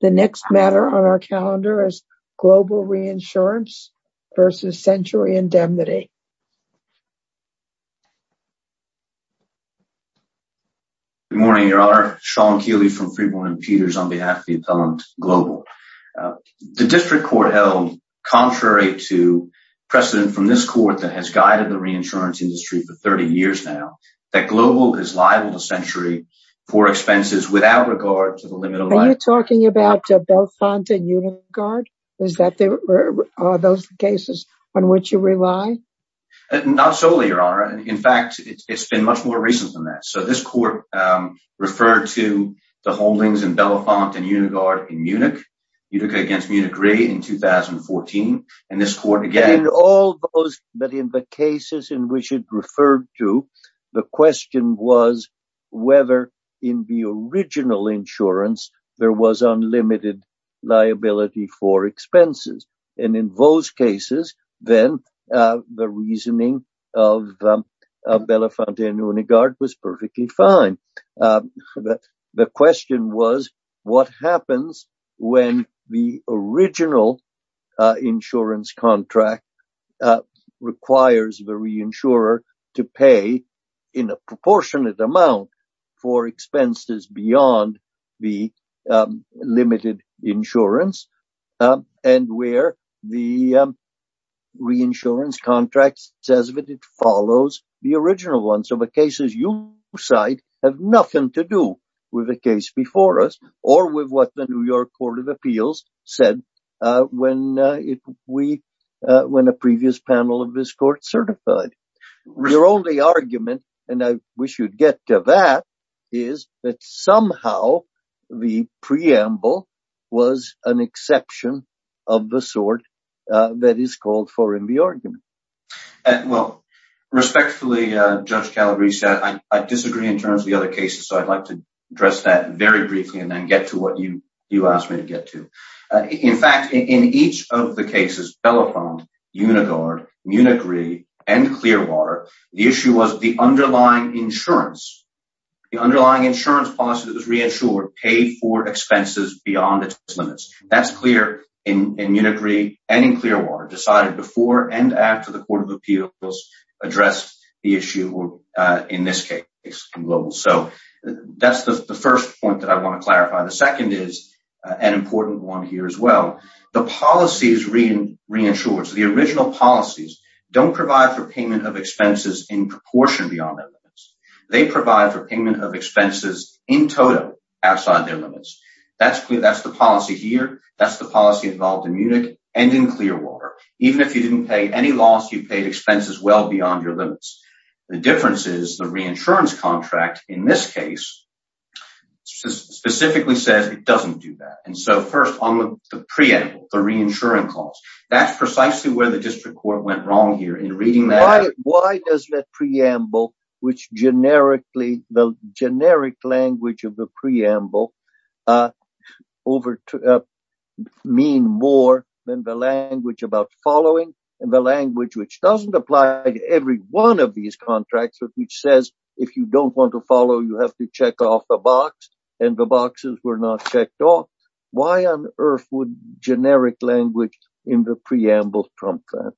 The next matter on our calendar is Global Reinsurance versus Century Indemnity. Good morning, Your Honor. Sean Keeley from Freeborn and Peters on behalf of the appellant Global. The district court held, contrary to precedent from this court that has guided the reinsurance industry for 30 years now, that Global is liable to Century for expenses without regard Are you talking about Belafonte and Unigard? Are those the cases on which you rely? Not solely, Your Honor. In fact, it's been much more recent than that. So this court referred to the holdings in Belafonte and Unigard in Munich, Munich against Munich Re in 2014, and this court again... But in the cases in which it referred to, the question was whether in the original insurance, there was unlimited liability for expenses. And in those cases, then the reasoning of Belafonte and Unigard was perfectly fine. But the question was, what happens when the original insurance contract requires the reinsurer to pay in a proportionate amount for expenses beyond the limited insurance? And where the reinsurance contract says that it follows the original one. So the cases you cite have nothing to do with the case before us, or with what the New York Court of Appeals said when a previous panel of this court certified. The only argument, and I wish you'd get to that, is that somehow, the preamble was an exception of the sort that is called for in the argument. Well, respectfully, Judge Calabrese, I disagree in terms of the other cases. So I'd like to address that very briefly and then get to what you asked me to get to. In fact, in each of the Munigree and Clearwater, the issue was the underlying insurance. The underlying insurance policy that was reinsured paid for expenses beyond its limits. That's clear in Munigree and in Clearwater, decided before and after the Court of Appeals addressed the issue in this case. So that's the first point that I want to clarify. The second is an important one here as well. The policies reinsured, the original policies, don't provide for payment of expenses in proportion beyond their limits. They provide for payment of expenses in total outside their limits. That's clear. That's the policy here. That's the policy involved in Munich and in Clearwater. Even if you didn't pay any loss, you paid expenses well beyond your limits. The difference is the reinsurance contract, in this case, specifically says it doesn't do that. And so first on the preamble, the reinsurance clause, that's precisely where the district court went wrong here in reading that. Why does that preamble, which generically, the generic language of the preamble, mean more than the language about following and the language which doesn't apply to every one these contracts, which says if you don't want to follow, you have to check off the box and the boxes were not checked off? Why on earth would generic language in the preamble prompt that?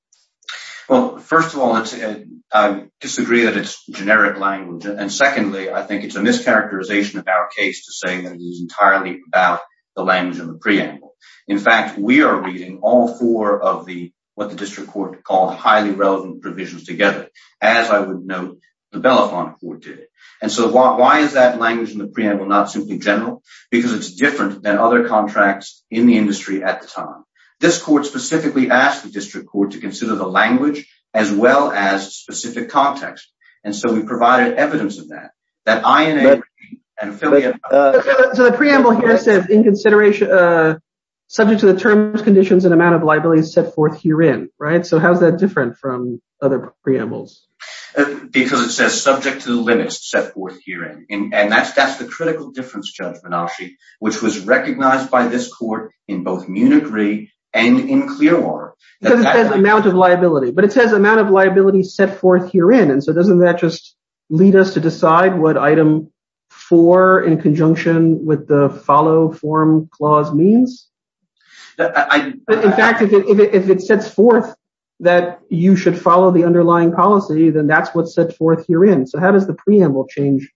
Well, first of all, I disagree that it's generic language. And secondly, I think it's a mischaracterization of our case to say that it is entirely about the language in the preamble. In fact, we are reading all four of what the district court called highly relevant provisions together, as I would note the Belafonte court did. And so why is that language in the preamble not simply general? Because it's different than other contracts in the industry at the time. This court specifically asked the district court to consider the language as well as specific context. And so we provided evidence of that. So the preamble here says in consideration, subject to the terms, conditions, and amount of liabilities set forth herein, right? So how's that different from other preambles? Because it says subject to the limits set forth herein, and that's the critical difference, Judge Menasche, which was recognized by this court in both Munich Re and in Clearwater. Because it says amount of liability, but it says amount of liability set forth herein. And so doesn't that just lead us to decide what item four in conjunction with the follow form clause means? In fact, if it sets forth that you should follow the underlying policy, then that's what's set forth herein. So how does the preamble change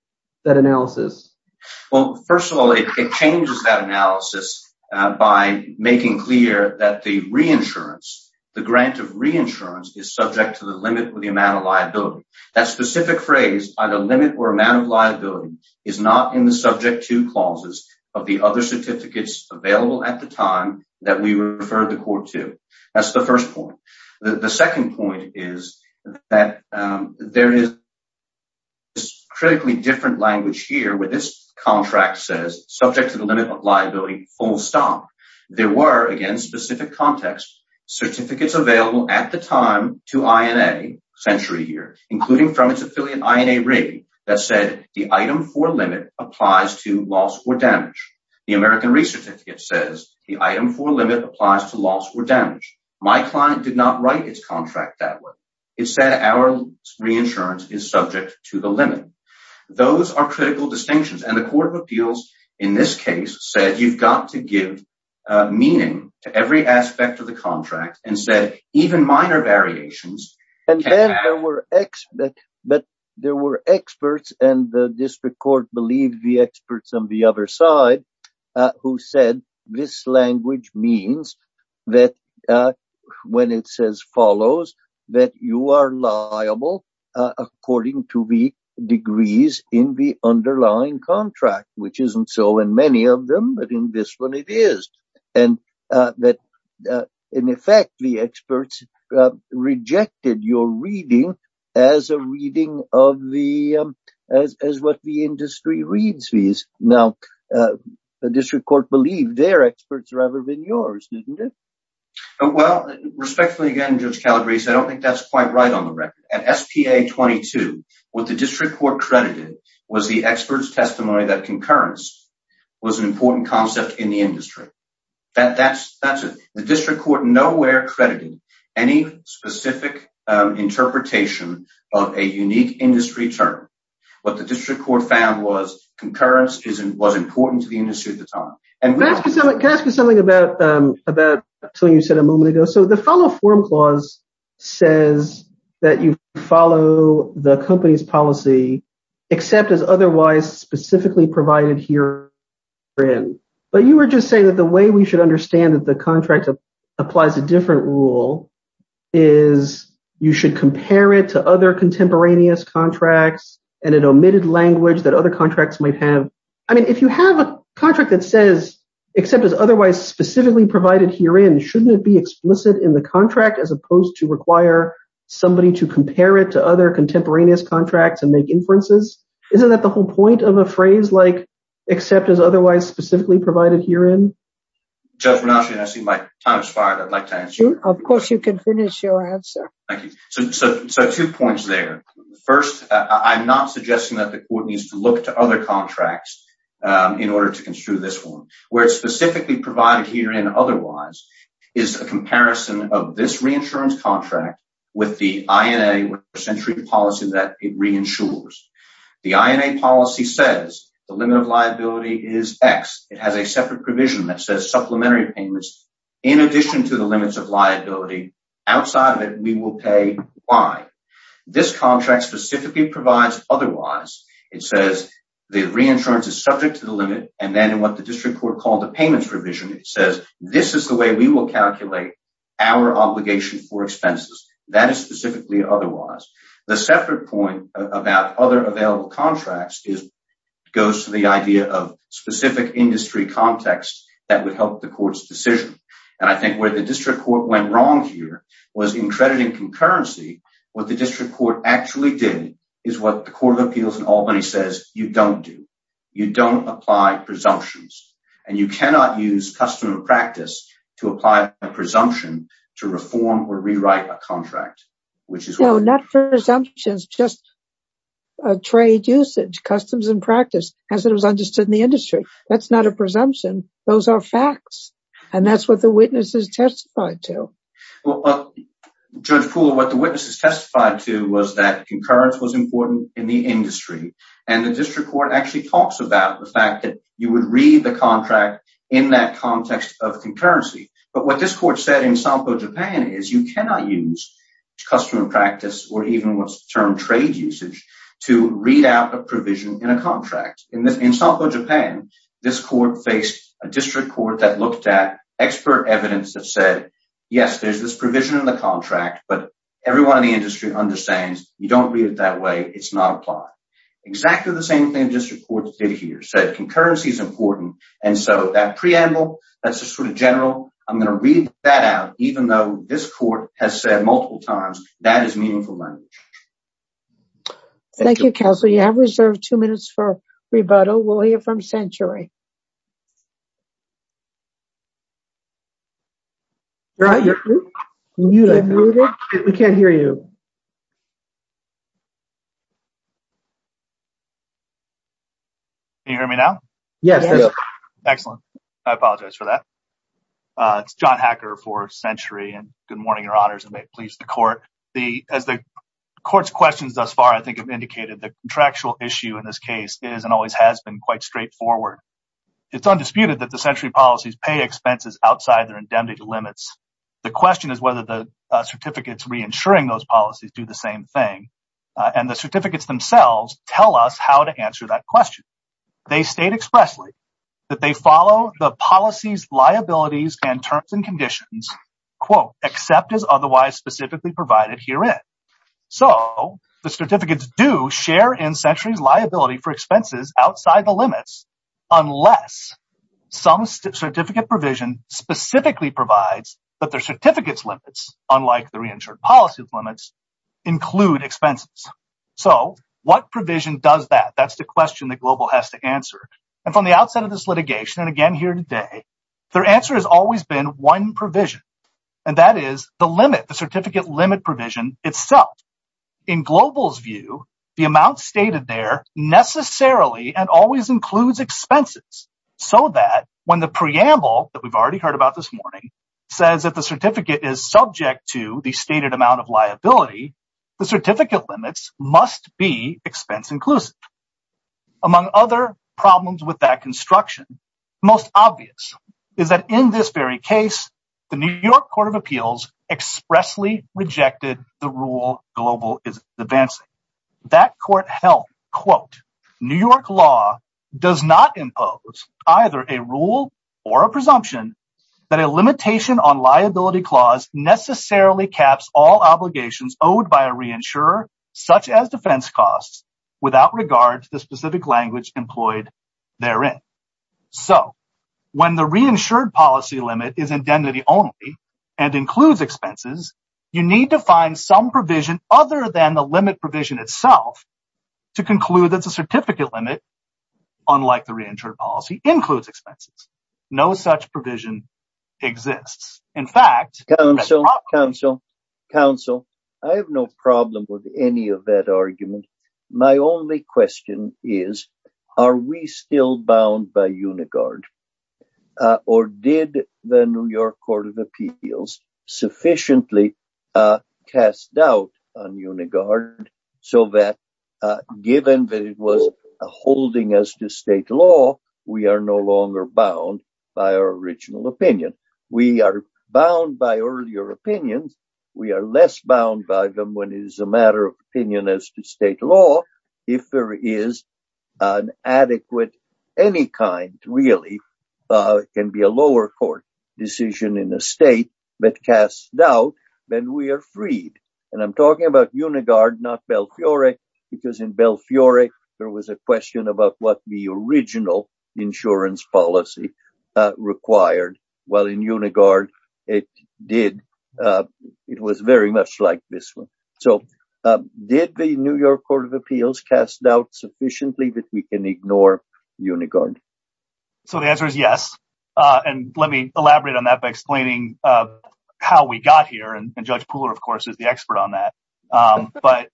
that analysis? Well, first of all, it changes that analysis by making clear that the re-insurance, the grant of re-insurance, is subject to the limit with the amount of liability. That specific phrase, either limit or amount of liability, is not in the subject to clauses of the other certificates available at the time that we referred the court to. That's the first point. The second point is that there is this critically different language here where this contract says subject to the limit of liability full stop. There were, again, specific context certificates available at the time to INA, Century here, including from its affiliate INA rig that said the item four limit applies to loss or damage. The American Research Certificate says the item four limit applies to loss or damage. My client did not write its contract that way. It said our re-insurance is subject to the limit. Those are critical distinctions. And the court of appeals, in this case, said you've got to give meaning to every aspect of the contract and said even minor variations. And then there were experts and the district court believed the experts on the other side who said this language means that when it says follows that you are liable according to the degrees in the underlying contract, which isn't so in many of them, but in this one it is. And that, in effect, the experts rejected your reading as a reading of what the industry reads. Now, the district court believed their experts rather than yours, didn't it? Well, respectfully again, Judge Calabrese, I don't think that's quite right on the record. At SPA 22, what the district court credited was the experts' testimony that concurrence was an important concept in the industry. That's it. The district court nowhere credited any specific interpretation of a unique industry term. What the district court found was concurrence was important to the industry at the time. And can I ask you something about something you said a moment ago? So the follow form clause says that you follow the company's policy except as otherwise specifically provided herein. But you were just saying that the way we should understand that the contract applies a different rule is you should compare it to other contemporaneous contracts and an omitted language that other contracts might have. I mean, if you have a contract that says except as otherwise specifically provided herein, shouldn't it be explicit in the contract as opposed to require somebody to compare it to other contemporaneous contracts and make inferences? Isn't that the whole point of a phrase like except as otherwise specifically provided herein? Judge Ranaschian, I see my time has expired. I'd like to answer. Of course, you can finish your answer. Thank you. So two points there. First, I'm not suggesting that the court needs to look to other contracts in order to construe this one. Where it's specifically provided herein otherwise is a comparison of this reinsurance contract with the INA policy that it reinsures. The INA policy says the limit of liability is X. It has a separate provision that says supplementary payments in addition to the limits of liability. Outside of it, we will pay Y. This contract specifically provides otherwise. It says the reinsurance is subject to the limit. And then in what the district court called the payments revision, it says this is the way we will calculate our obligation for expenses. That is specifically otherwise. The separate point about other available contracts goes to the idea of specific industry context that would help the court's decision. And I think where the district court went wrong here was in crediting concurrency. What the district court actually did is what the Court of Appeals in Albany says you don't do. You don't apply presumptions. And you cannot use custom and practice to apply a presumption to reform or rewrite a contract. Not presumptions, just trade usage, customs and practice as it was understood in the industry. That's not a presumption. Those are facts. And that's what the witnesses testified to. Judge Poole, what the witnesses testified to was that concurrence was important in the industry. And the district court actually talks about the fact that you would read the contract in that context of concurrency. But what this court said in Sampo, Japan is you cannot use custom and practice or even what's termed trade usage to read out a provision in a contract. In Sampo, Japan, this court faced a district court that looked at expert evidence that said, yes, there's this provision in the contract, but everyone in the industry understands you don't read it that way. It's not applied. Exactly the same thing the district court did here, said concurrency is important. And so that preamble, that's just sort of general. I'm going to read that out, even though this court has said multiple times, that is meaningful language. Thank you, counsel. You have reserved two minutes for rebuttal. We'll hear from Century. We can't hear you. Can you hear me now? Yes. Excellent. I apologize for that. It's John Hacker for Century and good morning, your honors, and may it please the court. As the court's questions thus far, I think have indicated the contractual issue in this case is and always has been quite straightforward. It's undisputed that the Century policies pay expenses outside their indemnity limits. The question is whether the certificates reinsuring those policies do the same thing. And the certificates themselves tell us how to answer that question. They state expressly that they follow the policies, liabilities, and terms and conditions, except as otherwise specifically provided herein. So the certificates do share in Century's liability for expenses outside the limits, unless some certificate provision specifically provides that their certificates limits, unlike the reinsured policy limits, include expenses. So what provision does that? That's the question that Global has to answer. And from the outset of this litigation, and again here today, their answer has always been one provision, and that is the limit, the certificate limit provision itself. In Global's view, the amount stated there necessarily and always includes expenses, so that when the preamble that we've already heard about this morning says that the certificate is subject to the stated amount of liability, the certificate limits must be expense-inclusive. Among other problems with that construction, most obvious is that in this very case, the New York Court of Appeals expressly rejected the rule Global is advancing. That court held, quote, New York law does not impose either a rule or a presumption that a limitation on liability clause necessarily caps all obligations owed by a reinsurer, such as defense costs, without regard to the specific language employed therein. So when the reinsured policy limit is indemnity only and includes expenses, you need to find some provision other than the limit provision itself to conclude that the certificate limit, unlike the reinsured policy, includes expenses. No such provision exists. In fact, Council, I have no problem with any of that argument. My only question is, are we still bound by Unigard? Or did the New York Court of Appeals sufficiently cast doubt on Unigard so that, given that it was holding as to state law, we are no longer bound by our original opinion? We are bound by earlier opinions. We are less bound by them when it is a matter of opinion as to state law. If there is an adequate, any kind really, it can be a lower court decision in a state that casts doubt, then we are freed. And I'm talking about Unigard, not Belfiore, because in Belfiore there was a question about what the original insurance policy required, while in Unigard it was very much like this one. So did the New York Court of Appeals cast sufficiently that we can ignore Unigard? So the answer is yes. And let me elaborate on that by explaining how we got here. And Judge Pooler, of course, is the expert on that. But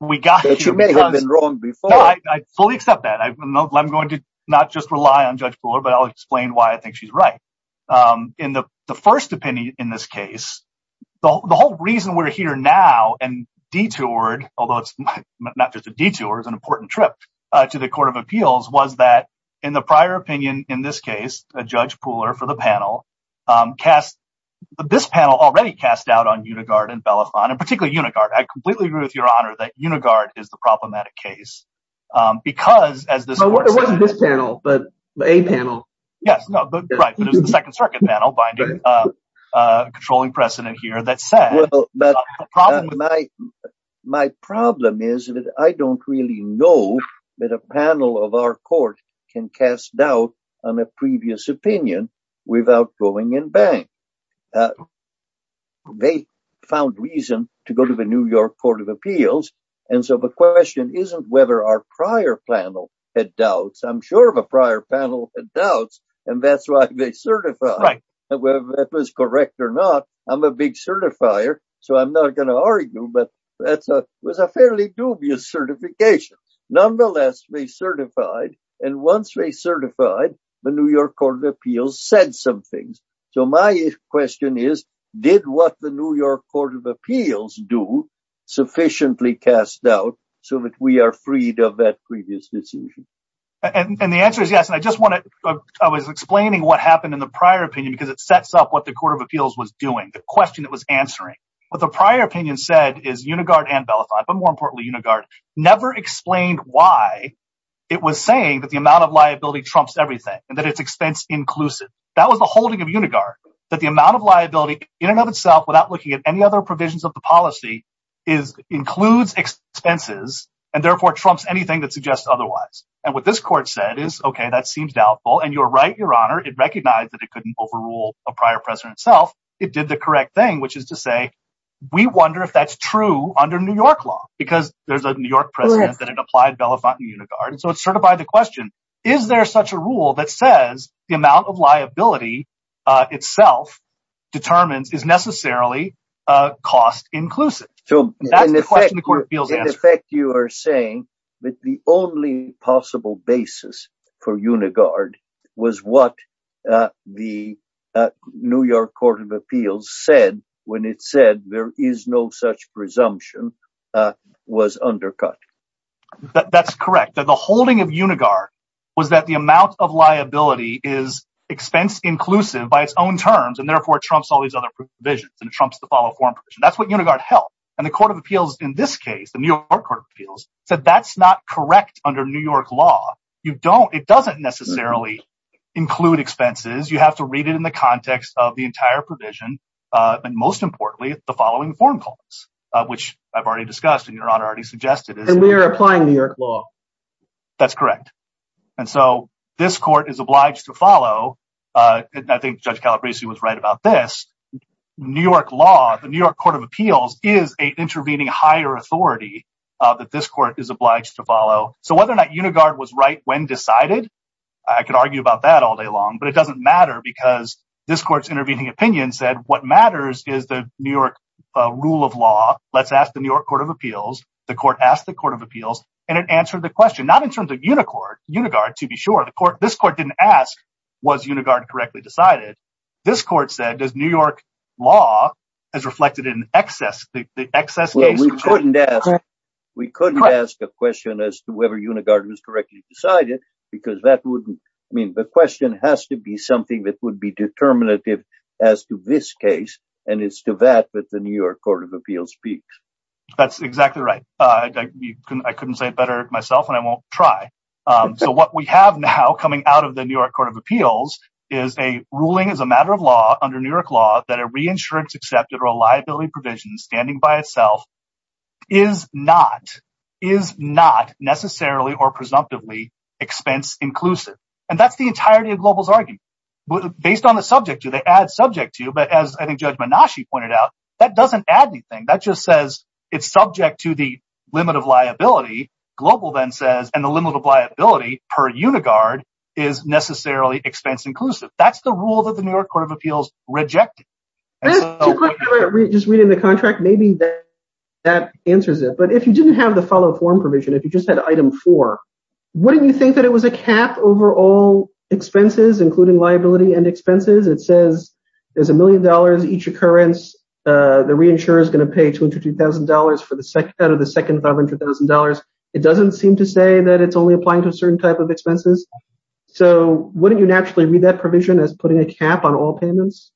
we got here. But you may have been wrong before. I fully accept that. I'm going to not just rely on Judge Pooler, but I'll explain why I think she's right. In the first opinion in this case, the whole reason we're here now and detoured, although it's not just a detour, it's an important trip to the Court of Appeals, was that in the prior opinion, in this case, Judge Pooler for the panel cast, this panel already cast doubt on Unigard and Belafonte, and particularly Unigard. I completely agree with your honor that Unigard is the problematic case, because as this works. It wasn't this panel, but a panel. Yes, right, but it was the Second Circuit panel, controlling precedent here that said. My problem is that I don't really know that a panel of our court can cast doubt on a previous opinion without going in bank. They found reason to go to the New York Court of Appeals. And so the question isn't whether our prior panel had doubts. I'm sure if a prior panel had doubts, and that's why they certified. Whether that was correct or not, I'm a big certifier, so I'm not going to argue, but that was a fairly dubious certification. Nonetheless, they certified, and once they certified, the New York Court of Appeals said some things. So my question is, did what the New York Court of Appeals do sufficiently cast doubt, so that we are freed of that previous decision? And the answer is yes, and I was explaining what happened in the prior opinion, because it sets up what the Court of Appeals was doing, the question it was answering. What the prior opinion said is Unigard and Belafonte, but more importantly, Unigard, never explained why it was saying that the amount of liability trumps everything, and that it's expense-inclusive. That was the holding of Unigard, that the amount of liability in and of itself, without looking at any other provisions of the policy, includes expenses, and therefore trumps anything that suggests otherwise. And what this court said is, okay, that seems doubtful, and you're right, Your Honor, it recognized that it couldn't overrule a prior precedent itself. It did the correct thing, which is to say, we wonder if that's true under New York law, because there's a New York precedent that it applied Belafonte and Unigard. And so it's sort of by the question, is there such a rule that says the amount of liability itself determines is necessarily cost-inclusive? That's the question the Court of Appeals asked. In effect, you are saying that the only possible basis for Unigard was what the New York Court of Appeals said when it said there is no such presumption was undercut. That's correct. The holding of Unigard was that the amount of liability is expense-inclusive by its own terms, and therefore trumps all these other provisions, and trumps the follow-up form provision. That's what Unigard held. And the Court of Appeals in this case, the New York Court of Appeals, said that's not correct under New York law. It doesn't necessarily include expenses. You have to read it in the context of the entire provision, and most importantly, the following form calls, which I've already discussed and Your Honor already suggested. And we are applying New York law. That's correct. And so this court is obliged to follow, and I think Judge Calabresi was right about this, New York law, the New York Court of Appeals is an intervening higher authority that this court is obliged to follow. So whether or not Unigard was right when decided, I could argue about that all day long, but it doesn't matter because this court's intervening opinion said what matters is the New York rule of law. Let's ask the New York Court of Appeals. The court asked the Court of Appeals, and it answered the question, not in terms of Unigard, to be sure. This court didn't ask, was Unigard correctly decided? This court said, does New York law as reflected in the excess case? We couldn't ask a question as to whether Unigard was correctly decided because that wouldn't, I mean, the question has to be something that would be determinative as to this case, and it's to that that the New York Court of Appeals speaks. That's exactly right. I couldn't say it better myself, and I won't try. So what we have now coming out of the New York Court of Appeals is a ruling as a matter of law under New York law that a reinsurance accepted or a liability provision standing by itself is not necessarily or presumptively expense inclusive, and that's the entirety of Global's argument. Based on the subject, do they add subject to, but as I think Judge Menashe pointed out, that doesn't add anything. That just says it's subject to the limit of liability. Global then says, and the limit of liability per Unigard is necessarily expense inclusive. That's the rule that the New York Court of Appeals rejected. Just reading the contract, maybe that answers it, but if you didn't have the follow-up form provision, if you just had item 4, wouldn't you think that it was a cap over all expenses, including liability and expenses? It says there's a million dollars each occurrence. The reinsurer is going to pay $250,000 out of the second $500,000. It doesn't seem to say that it's only applying to a certain type of expenses, so wouldn't you naturally read that provision as putting a cap on all payments?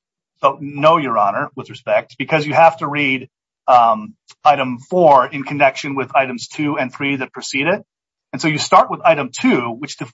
No, Your Honor, with respect, because you have to read item 4 in connection with items 2 and 3 that precede it, and so you start with item 2,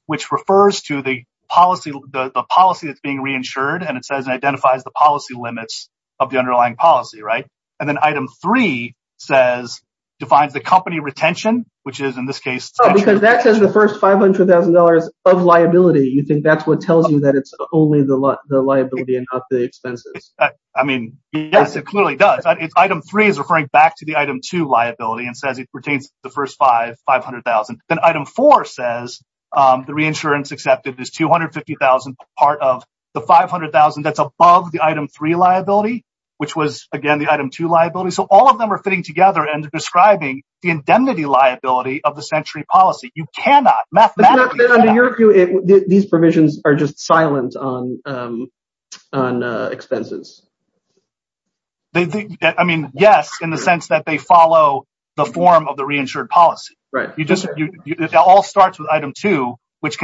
which refers to the policy that's being reinsured, and it says it identifies the policy limits of the underlying policy, right? And then item 3 defines the company retention, which is, in this case... Because that says the first $500,000 of liability. You think that's what tells you that it's only the liability and not the expenses? I mean, yes, it clearly does. Item 3 is referring back to the item 2 liability and says it retains the first $500,000. Then item 4 says the reinsurance accepted is $250,000 part of the $500,000 that's above the item 3 liability, which was, again, the item 2 liability. So all of them are fitting together and describing the indemnity liability of the century policy. You cannot, mathematically... Under your view, these provisions are just silent on expenses. I mean, yes, in the sense that they follow the form of the reinsured policy. Right. It all starts with item 2, which,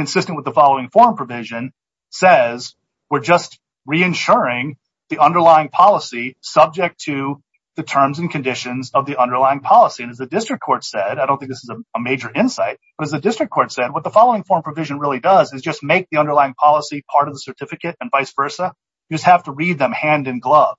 subject to the terms and conditions of the underlying policy. And as the district court said... I don't think this is a major insight, but as the district court said, what the following form provision really does is just make the underlying policy part of the certificate and vice versa. You just have to read them hand in glove.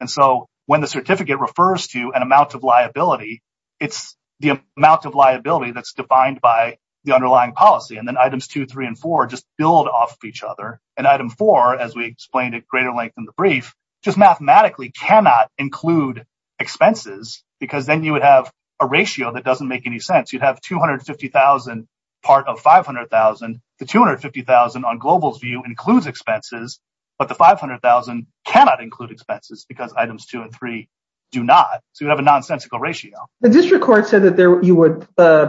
And so when the certificate refers to an amount of liability, it's the amount of liability that's defined by the underlying policy. And then items 2, 3, and 4 just build off of each other. And item 4, as we explained at greater length in the brief, just mathematically cannot include expenses because then you would have a ratio that doesn't make any sense. You'd have 250,000 part of 500,000. The 250,000 on Global's view includes expenses, but the 500,000 cannot include expenses because items 2 and 3 do not. So you have a nonsensical ratio. The district court said that you would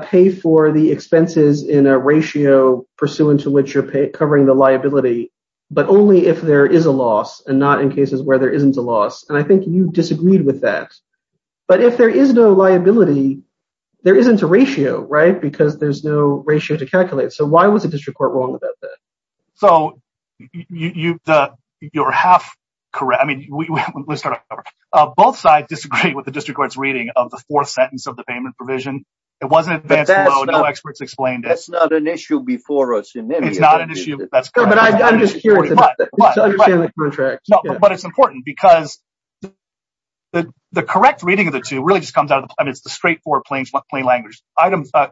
pay for the expenses in a ratio pursuant to which you're covering the liability, but only if there is a loss and not in cases where there isn't a loss. And I think you disagreed with that. But if there is no liability, there isn't a ratio, right? Because there's no ratio to calculate. So why was the district court wrong about that? So you're half correct. I mean, let's start over. Both sides disagree with the district court's reading of the fourth sentence of the payment provision. It wasn't advanced law. No experts explained it. That's not an issue before us in the contract. But it's important because the correct reading of the two really just comes out of the plain language.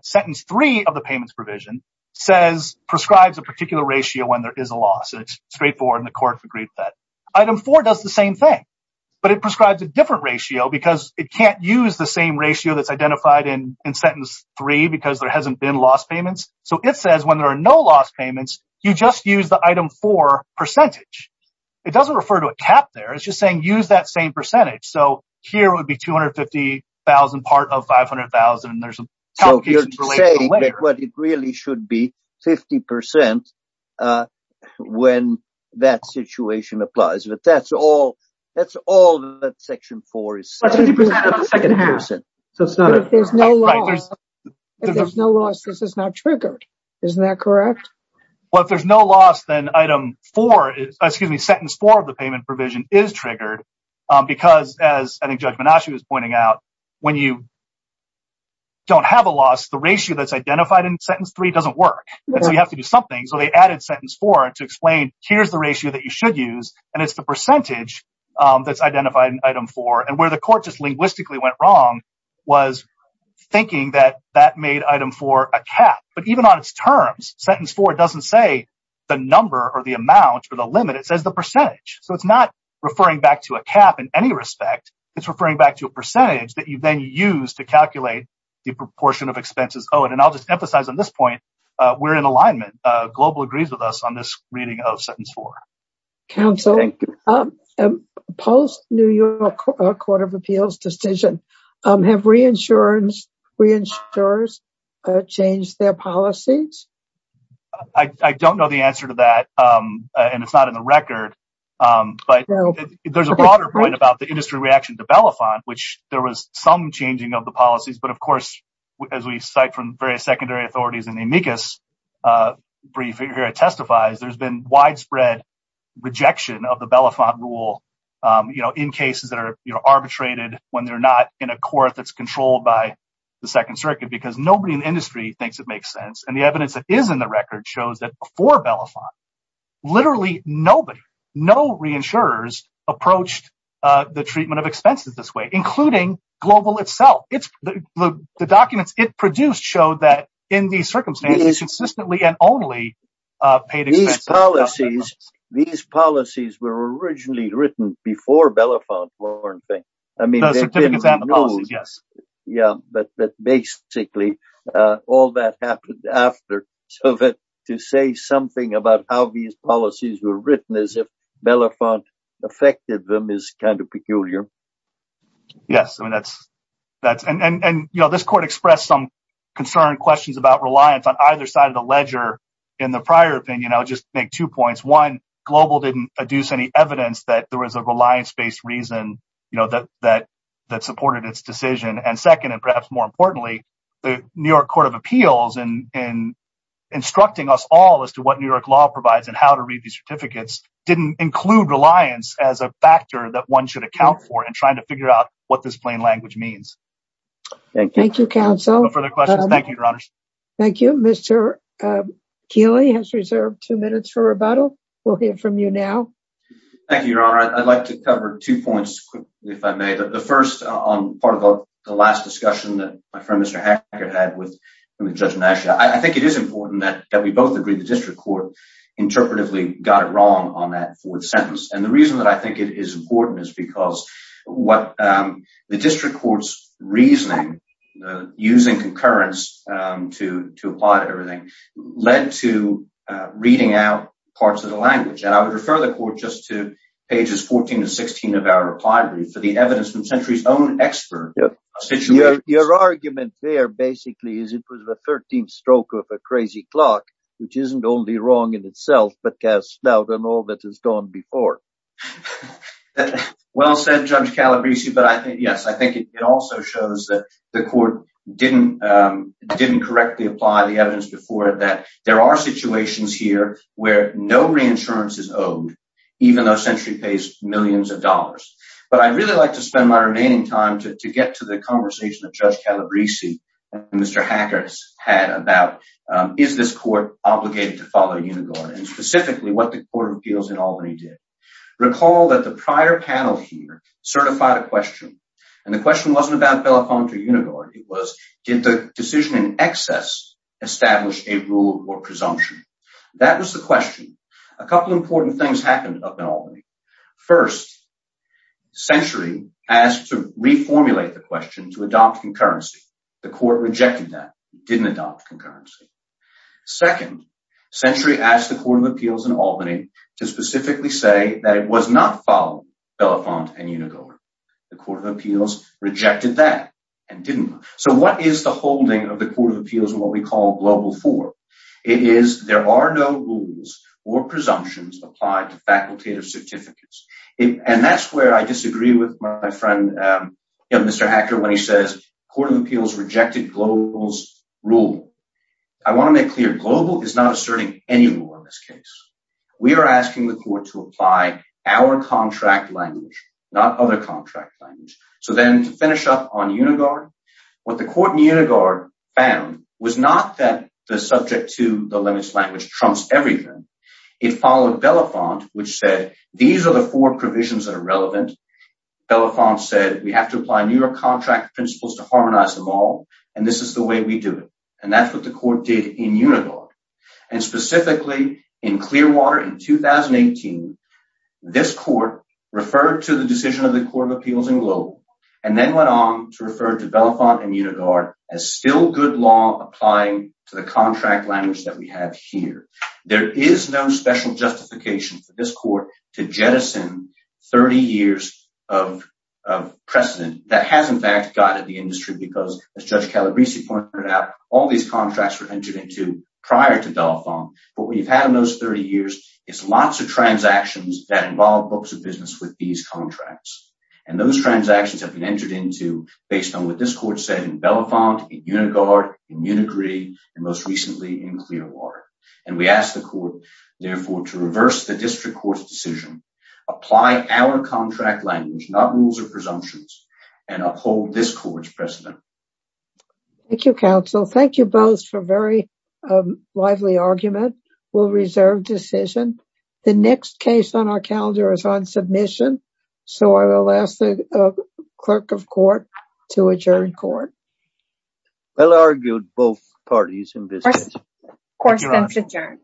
Sentence 3 of the payments provision prescribes a particular ratio when there is a loss. It's straightforward and the court agreed with that. Item 4 does the same thing, but it prescribes a different ratio because it can't use the same ratio that's identified in sentence 3 because there hasn't been loss payments. So it says when there are no loss payments, you just use the item 4 percentage. It doesn't refer to a cap there. It's just saying use that same percentage. So here would be $250,000 part of $500,000. And there's some complications related to that later. So you're saying that it really should be 50% when that situation applies. But that's all that section 4 is saying. That's 50% of the second half. But if there's no loss, this is not triggered. Isn't that correct? Well, if there's no loss, then item 4, excuse me, sentence 4 of the payment provision is triggered. Because as I think Judge Menashe was pointing out, when you don't have a loss, the ratio that's identified in sentence 3 doesn't work. And so you have to do something. So they added sentence 4 to explain here's the ratio that you should use. And it's the percentage that's identified in item 4. And where the court just linguistically went wrong was thinking that that made item 4 a cap. But even on its terms, sentence 4 doesn't say the number or the amount or the limit. It says the percentage. So it's not referring back to a cap in any respect. It's referring back to a percentage that you then use to calculate the proportion of expenses owed. And I'll just emphasize on this point, we're in alignment. Global agrees with us on this reading of sentence 4. Counsel, post-New York Court of Appeals decision, have reinsurers changed their policies? I don't know the answer to that. And it's not in the record. But there's a broader point about the industry reaction to Belafonte, which there was some changing of the policies. But of course, as we cite from various secondary authorities in the amicus brief here, it testifies there's been widespread rejection of the Belafonte rule in cases that are arbitrated when they're not in a court that's controlled by the Second Circuit. Because nobody in the industry thinks it makes sense. And the evidence that is in the record shows that before Belafonte, literally nobody, no reinsurers approached the treatment of expenses this way, including Global itself. The documents it produced showed that in these circumstances, consistently and only paid expenses. These policies were originally written before Belafonte were in effect. No, the certificates and the policies, yes. Yeah. But basically, all that happened after. So to say something about how these policies were written as if Belafonte affected them is kind of peculiar. Yes. And this court expressed some concerned questions about reliance on either side of the issue. I'll just make two points. One, Global didn't adduce any evidence that there was a reliance-based reason that supported its decision. And second, and perhaps more importantly, the New York Court of Appeals in instructing us all as to what New York law provides and how to read these certificates didn't include reliance as a factor that one should account for in trying to figure out what this plain language means. Thank you. Thank you, counsel. No further questions. Thank you, Your Honors. Thank you. Mr. Keeley has reserved two minutes for rebuttal. We'll hear from you now. Thank you, Your Honor. I'd like to cover two points quickly, if I may. The first on part of the last discussion that my friend Mr. Hackett had with Judge Nash. I think it is important that we both agree the district court interpretively got it wrong on that fourth sentence. And the reason that I think it is important is because what the district court's reasoning, using concurrence to apply to everything, led to reading out parts of the language. And I would refer the court just to pages 14 to 16 of our reply brief for the evidence from Sentry's own expert. Your argument there basically is it was the 13th stroke of a crazy clock, which isn't only wrong in itself, but cast doubt on all that has gone before. Well said, Judge Calabresi. But I think, yes, I think it also shows that the court didn't correctly apply the evidence before that. There are situations here where no reinsurance is owed, even though Sentry pays millions of dollars. But I'd really like to spend my remaining time to get to the conversation that Judge Calabresi and Mr. Hackett had about is this court obligated to follow Unigard, and specifically what the Court of Appeals in Albany did. Recall that the prior panel here certified a question. And the question wasn't about belliconto Unigard. It was, did the decision in excess establish a rule or presumption? That was the question. A couple important things happened up in Albany. First, Sentry asked to reformulate the question to adopt concurrency. The court rejected that. It didn't adopt concurrency. Second, Sentry asked the Court of Appeals in Albany to specifically say that it was not following belliconto and Unigard. The Court of Appeals rejected that and didn't. So what is the holding of the Court of Appeals in what we call Global IV? It is there are no rules or presumptions applied to facultative certificates. And that's where I disagree with my friend Mr. Hackett when he says the Court of Appeals rejected Global's rule. I want to make clear, Global is not asserting any rule in this case. We are asking the Court to apply our contract language, not other contract language. So then to finish up on Unigard, what the Court in Unigard found was not that the subject to the limits language trumps everything. It followed Belafonte which said these are the four provisions that are relevant. Belafonte said we have to apply New York contract principles to harmonize them all and this is the way we do it. And that's what the Court did in Unigard. And specifically in Clearwater in 2018, this Court referred to the decision of the Court of Appeals in Global and then went on to refer to Belafonte and Unigard as still good law applying to the contract language that we have here. There is no special justification for this Court to jettison 30 years of precedent that has in fact guided the industry because as Judge Calabresi pointed out, all these contracts were entered into prior to Belafonte. But what you've had in those 30 years is lots of transactions that involve books of business with these contracts. And those transactions have been entered into based on what this Court said in Belafonte, in Unigard, in Munigree, and most recently in Clearwater. And we ask the Court therefore to reverse the District Court's decision, apply our contract language, not rules or presumptions, and uphold this Court's precedent. Thank you, Counsel. Thank you both for a very lively argument. We'll reserve decision. The next case on our calendar is on submission. So I will ask the Clerk of Court to adjourn Court. Well argued, both parties in business. Court stands adjourned.